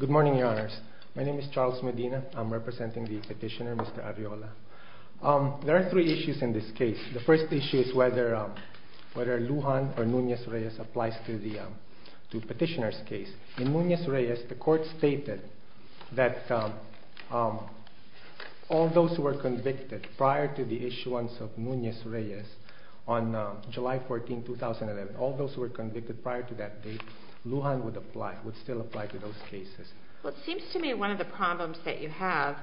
Good morning, Your Honors. My name is Charles Medina. I'm representing the petitioner, Mr. Arriola. There are three issues in this case. The first issue is whether Lujan or Nunez-Reyes applies to the petitioner's case. In Nunez-Reyes, the court stated that all those who were convicted prior to the issuance of Nunez-Reyes on July 14, 2011, prior to that date, Lujan would still apply to those cases. It seems to me one of the problems that you have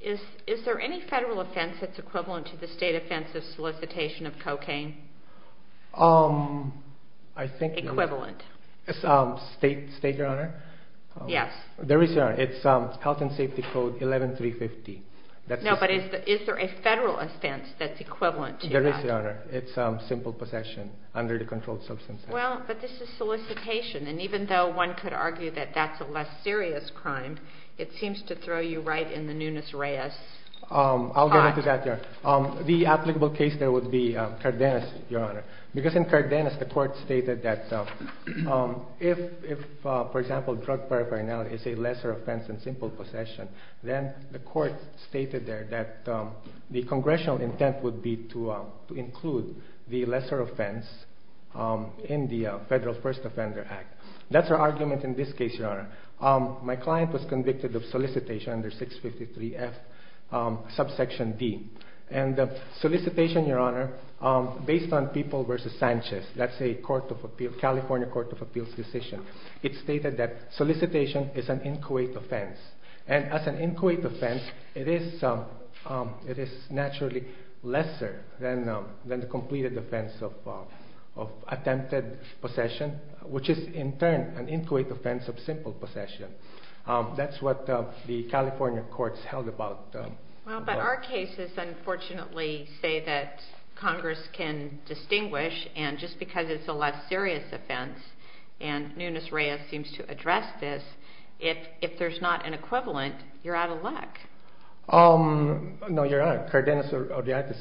is, is there any federal offense that's equivalent to the state offense of solicitation of cocaine? Equivalent? State, Your Honor? Yes. There is, Your Honor. It's Health and Safety Code 11350. There is, Your Honor. It's simple possession under the Controlled Substances Act. Well, but this is solicitation, and even though one could argue that that's a less serious crime, it seems to throw you right in the Nunez-Reyes pot. I'll get into that, Your Honor. The applicable case there would be Cardenas, Your Honor. Because in Cardenas, the court stated that if, for example, drug paraphernalia is a lesser offense than simple possession, then the court stated there that the congressional intent would be to include the lesser offense in the Federal First Offender Act. That's our argument in this case, Your Honor. My client was convicted of solicitation under 653F, subsection D. And solicitation, Your Honor, based on People v. Sanchez, that's a California Court of Appeals decision, it stated that solicitation is an inquiet offense. And as an inquiet offense, it is naturally lesser than the completed offense of attempted possession, which is, in turn, an inquiet offense of simple possession. That's what the California courts held about... Nunez-Reyes seems to address this. If there's not an equivalent, you're out of luck. No, Your Honor. Cardenas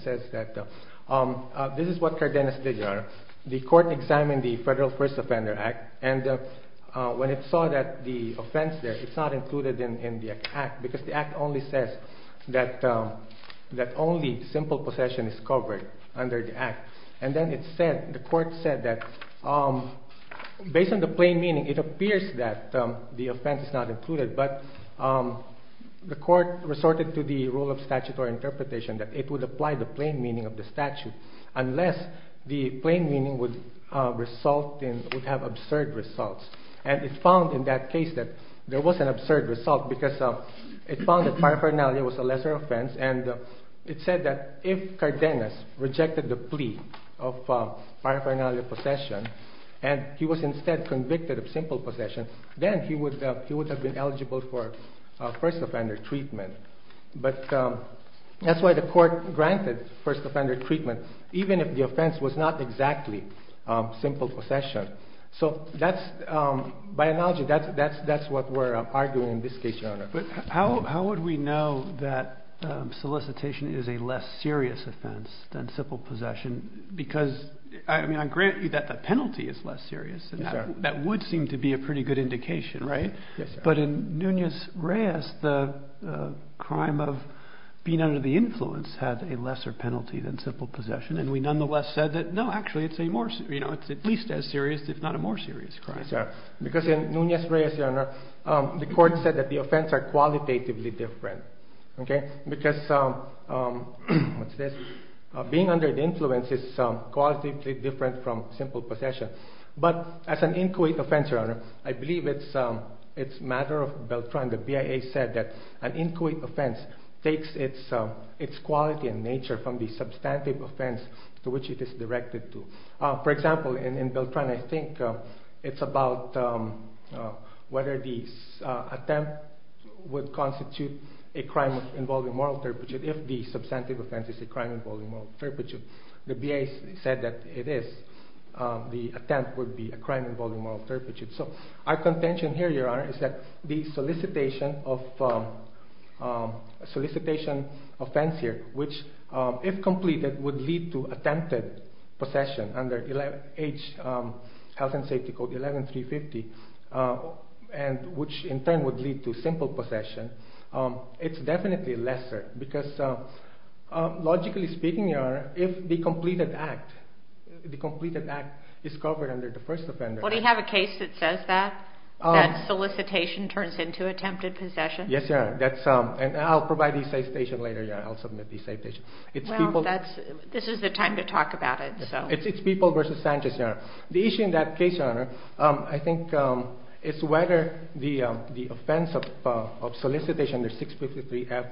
says that... This is what Cardenas did, Your Honor. The court examined the Federal First Offender Act, and when it saw that the offense there, it's not included in the act, because the act only says that only simple possession is covered under the act. And then the court said that, based on the plain meaning, it appears that the offense is not included, but the court resorted to the rule of statutory interpretation that it would apply the plain meaning of the statute unless the plain meaning would have absurd results. And it found in that case that there was an absurd result because it found that paraphernalia was a lesser offense, and it said that if Cardenas rejected the plea of paraphernalia possession, and he was instead convicted of simple possession, then he would have been eligible for first offender treatment. But that's why the court granted first offender treatment, even if the offense was not exactly simple possession. So that's... By analogy, that's what we're arguing in this case, Your Honor. But how would we know that solicitation is a less serious offense than simple possession? Because, I mean, on granted that the penalty is less serious, and that would seem to be a pretty good indication, right? Yes, Your Honor. But in Nunez-Reyes, the crime of being under the influence had a lesser penalty than simple possession, and we nonetheless said that, no, actually, it's at least as serious, if not a more serious crime. Because in Nunez-Reyes, Your Honor, the court said that the offense are qualitatively different, okay? Because being under the influence is qualitatively different from simple possession. But as an inquiet offense, Your Honor, I believe it's a matter of Beltran. The BIA said that an inquiet offense takes its quality and nature from the substantive offense to which it is directed to. For example, in Beltran, I think it's about whether the attempt would constitute a crime involving moral turpitude, if the substantive offense is a crime involving moral turpitude. The BIA said that it is. The attempt would be a crime involving moral turpitude. So our contention here, Your Honor, is that the solicitation offense here, which, if completed, would lead to attempted possession under Health and Safety Code 11350, and which in turn would lead to simple possession, it's definitely lesser. Because logically speaking, Your Honor, if the completed act is covered under the first offender... Well, do you have a case that says that, that solicitation turns into attempted possession? Yes, Your Honor. And I'll provide the citation later, Your Honor. I'll submit the citation. Well, this is the time to talk about it, so... It's People v. Sanchez, Your Honor. The issue in that case, Your Honor, I think it's whether the offense of solicitation under 653F,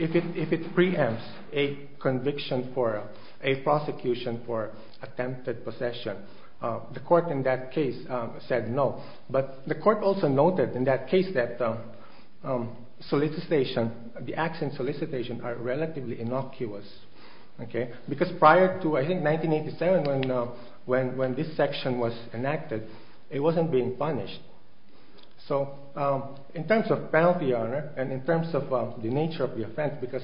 if it preempts a conviction for a prosecution for attempted possession, the court in that case said no. But the court also noted in that case that the acts in solicitation are relatively innocuous. Because prior to, I think, 1987, when this section was enacted, it wasn't being punished. So in terms of penalty, Your Honor, and in terms of the nature of the offense, because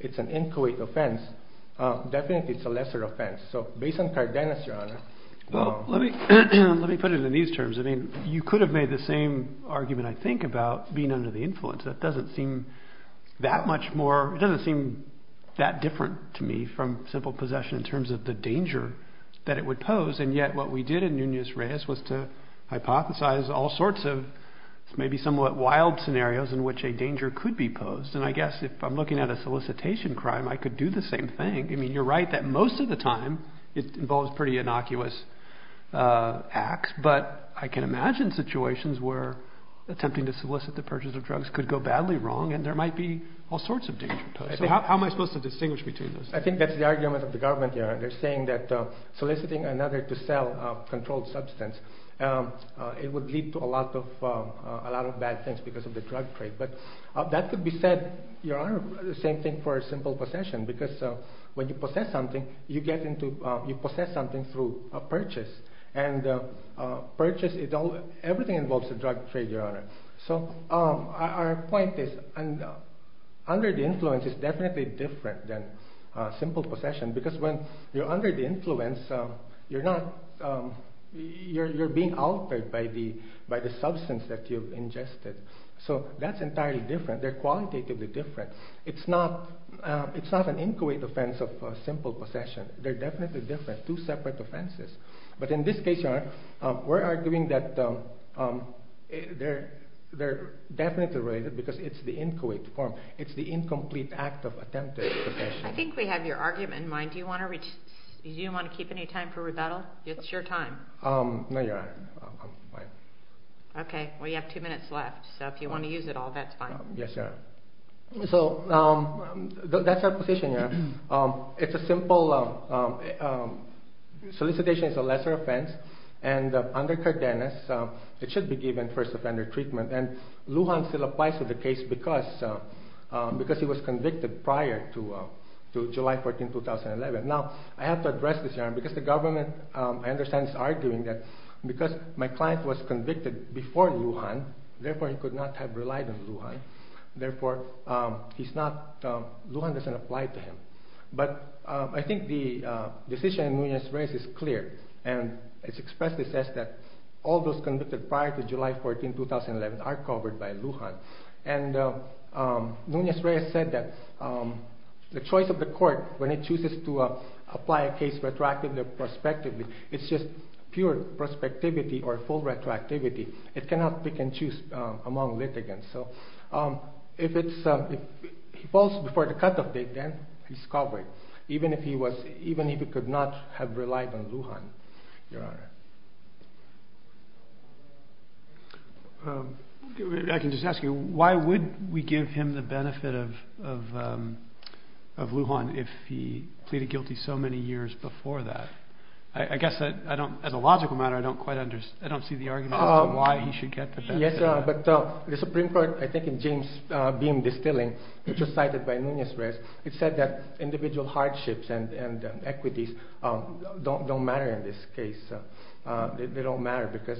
it's an inchoate offense, definitely it's a lesser offense. So based on Cardenas, Your Honor... Well, let me put it in these terms. I mean, you could have made the same argument, I think, about being under the influence. That doesn't seem that much more... It doesn't seem that different to me from simple possession in terms of the danger that it would pose. And yet what we did in Nunez-Reyes was to hypothesize all sorts of maybe somewhat wild scenarios in which a danger could be posed. And I guess if I'm looking at a solicitation crime, I could do the same thing. I mean, you're right that most of the time it involves pretty innocuous acts. But I can imagine situations where attempting to solicit the purchase of drugs could go badly wrong, and there might be all sorts of danger posed. So how am I supposed to distinguish between those? I think that's the argument of the government here. They're saying that soliciting another to sell a controlled substance, it would lead to a lot of bad things because of the drug trade. But that could be said, Your Honor, the same thing for simple possession, because when you possess something, you possess something through a purchase. And purchase, everything involves a drug trade, Your Honor. So our point is under the influence is definitely different than simple possession because when you're under the influence, you're being altered by the substance that you've ingested. So that's entirely different. They're qualitatively different. It's not an inchoate offense of simple possession. They're definitely different, two separate offenses. But in this case, Your Honor, we're arguing that they're definitely related because it's the inchoate form. It's the incomplete act of attempted possession. I think we have your argument in mind. Do you want to keep any time for rebuttal? It's your time. No, Your Honor, I'm fine. Okay. Well, you have two minutes left. So if you want to use it all, that's fine. Yes, Your Honor. So that's our position, Your Honor. It's a simple solicitation. It's a lesser offense. And under Cardenas, it should be given first offender treatment. And Lujan still applies to the case because he was convicted prior to July 14, 2011. Now, I have to address this, Your Honor, because the government, I understand, is arguing that because my client was convicted before Lujan, therefore, he could not have relied on Lujan. Therefore, he's not – Lujan doesn't apply to him. But I think the decision in Nunez-Reyes is clear. And it expressly says that all those convicted prior to July 14, 2011 are covered by Lujan. And Nunez-Reyes said that the choice of the court, when it chooses to apply a case retroactively or prospectively, it's just pure prospectivity or full retroactivity. It cannot pick and choose among litigants. So if it's – if he falls before the cutoff date, then he's covered, even if he was – even if he could not have relied on Lujan, Your Honor. I can just ask you, why would we give him the benefit of Lujan if he pleaded guilty so many years before that? I guess I don't – as a logical matter, I don't quite understand. I don't see the argument as to why he should get the benefit. Yes, Your Honor, but the Supreme Court, I think in James Beahm Distilling, which was cited by Nunez-Reyes, it said that individual hardships and equities don't matter in this case. They don't matter because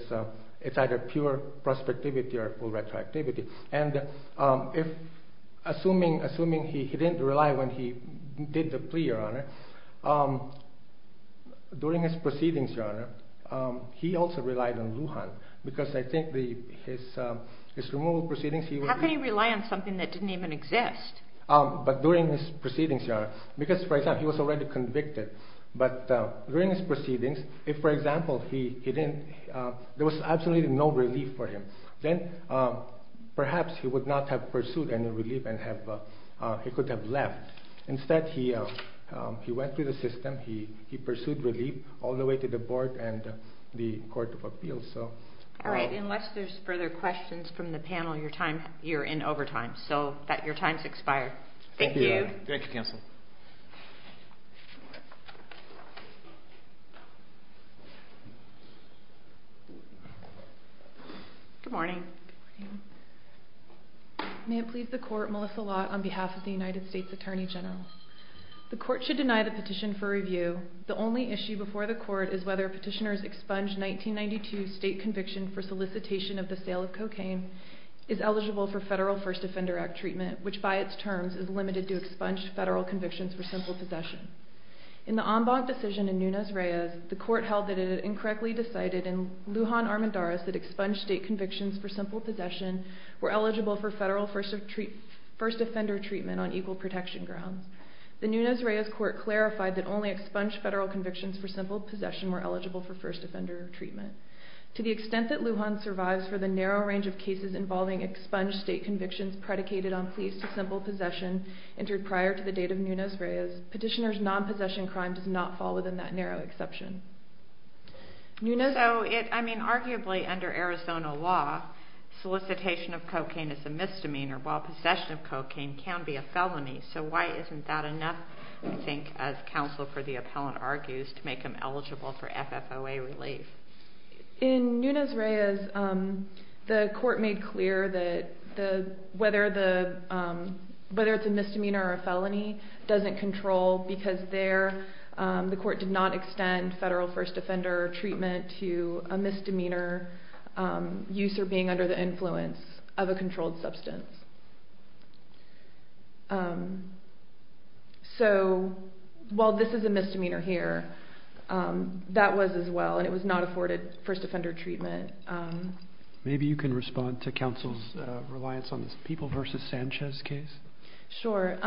it's either pure prospectivity or full retroactivity. And if – assuming he didn't rely when he did the plea, Your Honor, during his proceedings, Your Honor, he also relied on Lujan because I think the – his removal proceedings, he – How can he rely on something that didn't even exist? But during his proceedings, Your Honor, because, for example, he was already convicted. But during his proceedings, if, for example, he didn't – there was absolutely no relief for him, then perhaps he would not have pursued any relief and have – he could have left. Instead, he went through the system. He pursued relief all the way to the board and the Court of Appeals. All right. Unless there's further questions from the panel, your time – you're in overtime. So your time has expired. Thank you. Thank you, counsel. Good morning. Good morning. May it please the Court, Melissa Lott on behalf of the United States Attorney General. The Court should deny the petition for review. The only issue before the Court is whether petitioners' expunged 1992 state conviction for solicitation of the sale of cocaine is eligible for federal First Offender Act treatment, which by its terms is limited to expunged federal convictions for simple possession. In the Ombog decision in Nunez-Reyes, the Court held that it had incorrectly decided in Lujan-Armandares that expunged state convictions for simple possession were eligible for federal First Offender treatment on equal protection grounds. The Nunez-Reyes Court clarified that only expunged federal convictions for simple possession were eligible for First Offender treatment. To the extent that Lujan survives for the narrow range of cases involving expunged state convictions predicated on pleas to simple possession entered prior to the date of Nunez-Reyes, petitioners' non-possession crime does not fall within that narrow exception. So, I mean, arguably under Arizona law, solicitation of cocaine is a misdemeanor while possession of cocaine can be a felony. So why isn't that enough, I think, as counsel for the appellant argues, to make him eligible for FFOA relief? In Nunez-Reyes, the Court made clear that whether it's a misdemeanor or a felony doesn't control because there the Court did not extend federal First Offender treatment to a misdemeanor use or being under the influence of a controlled substance. So while this is a misdemeanor here, that was as well, and it was not afforded First Offender treatment. Maybe you can respond to counsel's reliance on this People v. Sanchez case? Sure.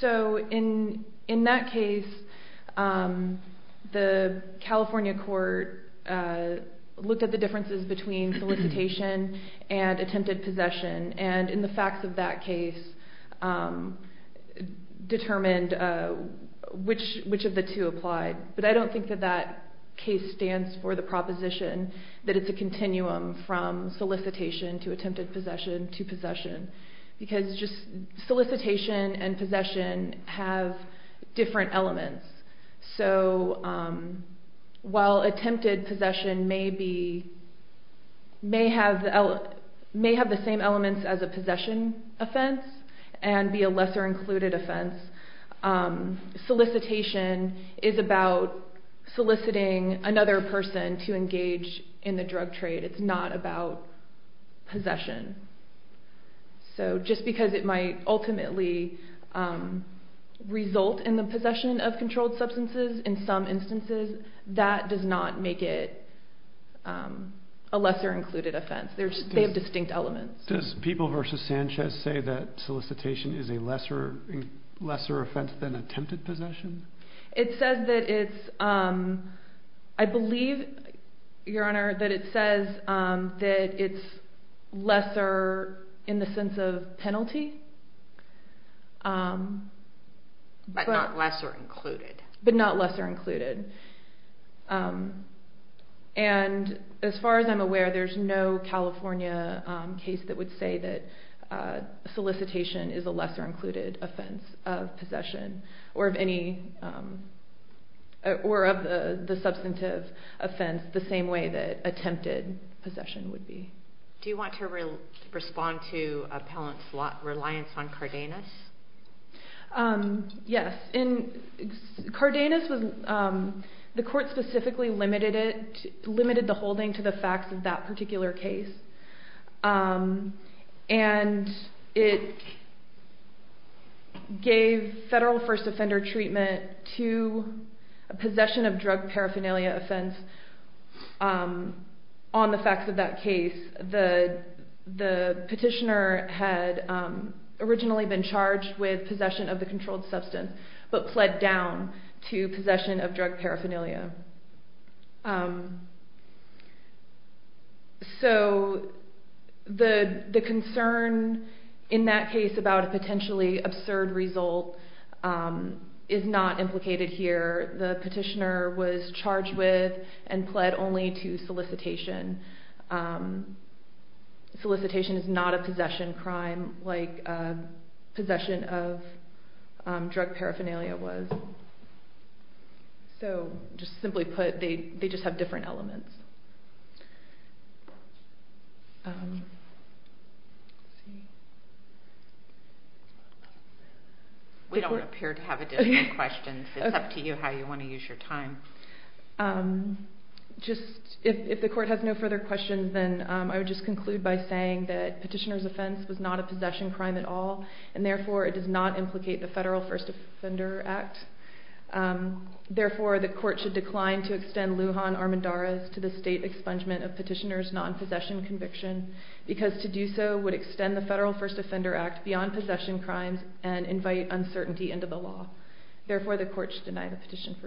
So in that case, the California Court looked at the differences between solicitation and attempted possession, and in the facts of that case, determined which of the two applied. But I don't think that that case stands for the proposition that it's a continuum from solicitation to attempted possession to possession because just solicitation and possession have different elements. So while attempted possession may have the same elements as a possession offense and be a lesser included offense, solicitation is about soliciting another person and to engage in the drug trade. It's not about possession. So just because it might ultimately result in the possession of controlled substances in some instances, that does not make it a lesser included offense. They have distinct elements. Does People v. Sanchez say that solicitation is a lesser offense than attempted possession? It says that it's lesser in the sense of penalty. But not lesser included? But not lesser included. And as far as I'm aware, there's no California case that would say that solicitation is a lesser included offense of possession or of the substantive offense the same way that attempted possession would be. Do you want to respond to appellant's reliance on Cardenas? Yes. Cardenas, the court specifically limited the holding to the facts of that particular case. And it gave federal first offender treatment to a possession of drug paraphernalia offense on the facts of that case. The petitioner had originally been charged with possession of the controlled substance but pled down to possession of drug paraphernalia. So the concern in that case about a potentially absurd result is not implicated here. The petitioner was charged with and pled only to solicitation. Solicitation is not a possession crime like possession of drug paraphernalia was. So just simply put, they just have different elements. We don't appear to have additional questions. It's up to you how you want to use your time. If the court has no further questions, then I would just conclude by saying that petitioner's offense was not a possession crime at all and therefore it does not implicate the Federal First Offender Act. Therefore, the court should decline to extend Lujan Armendariz to the state expungement of petitioner's non-possession conviction because to do so would extend the Federal First Offender Act beyond possession crimes and invite uncertainty into the law. Therefore, the court should deny the petition for review.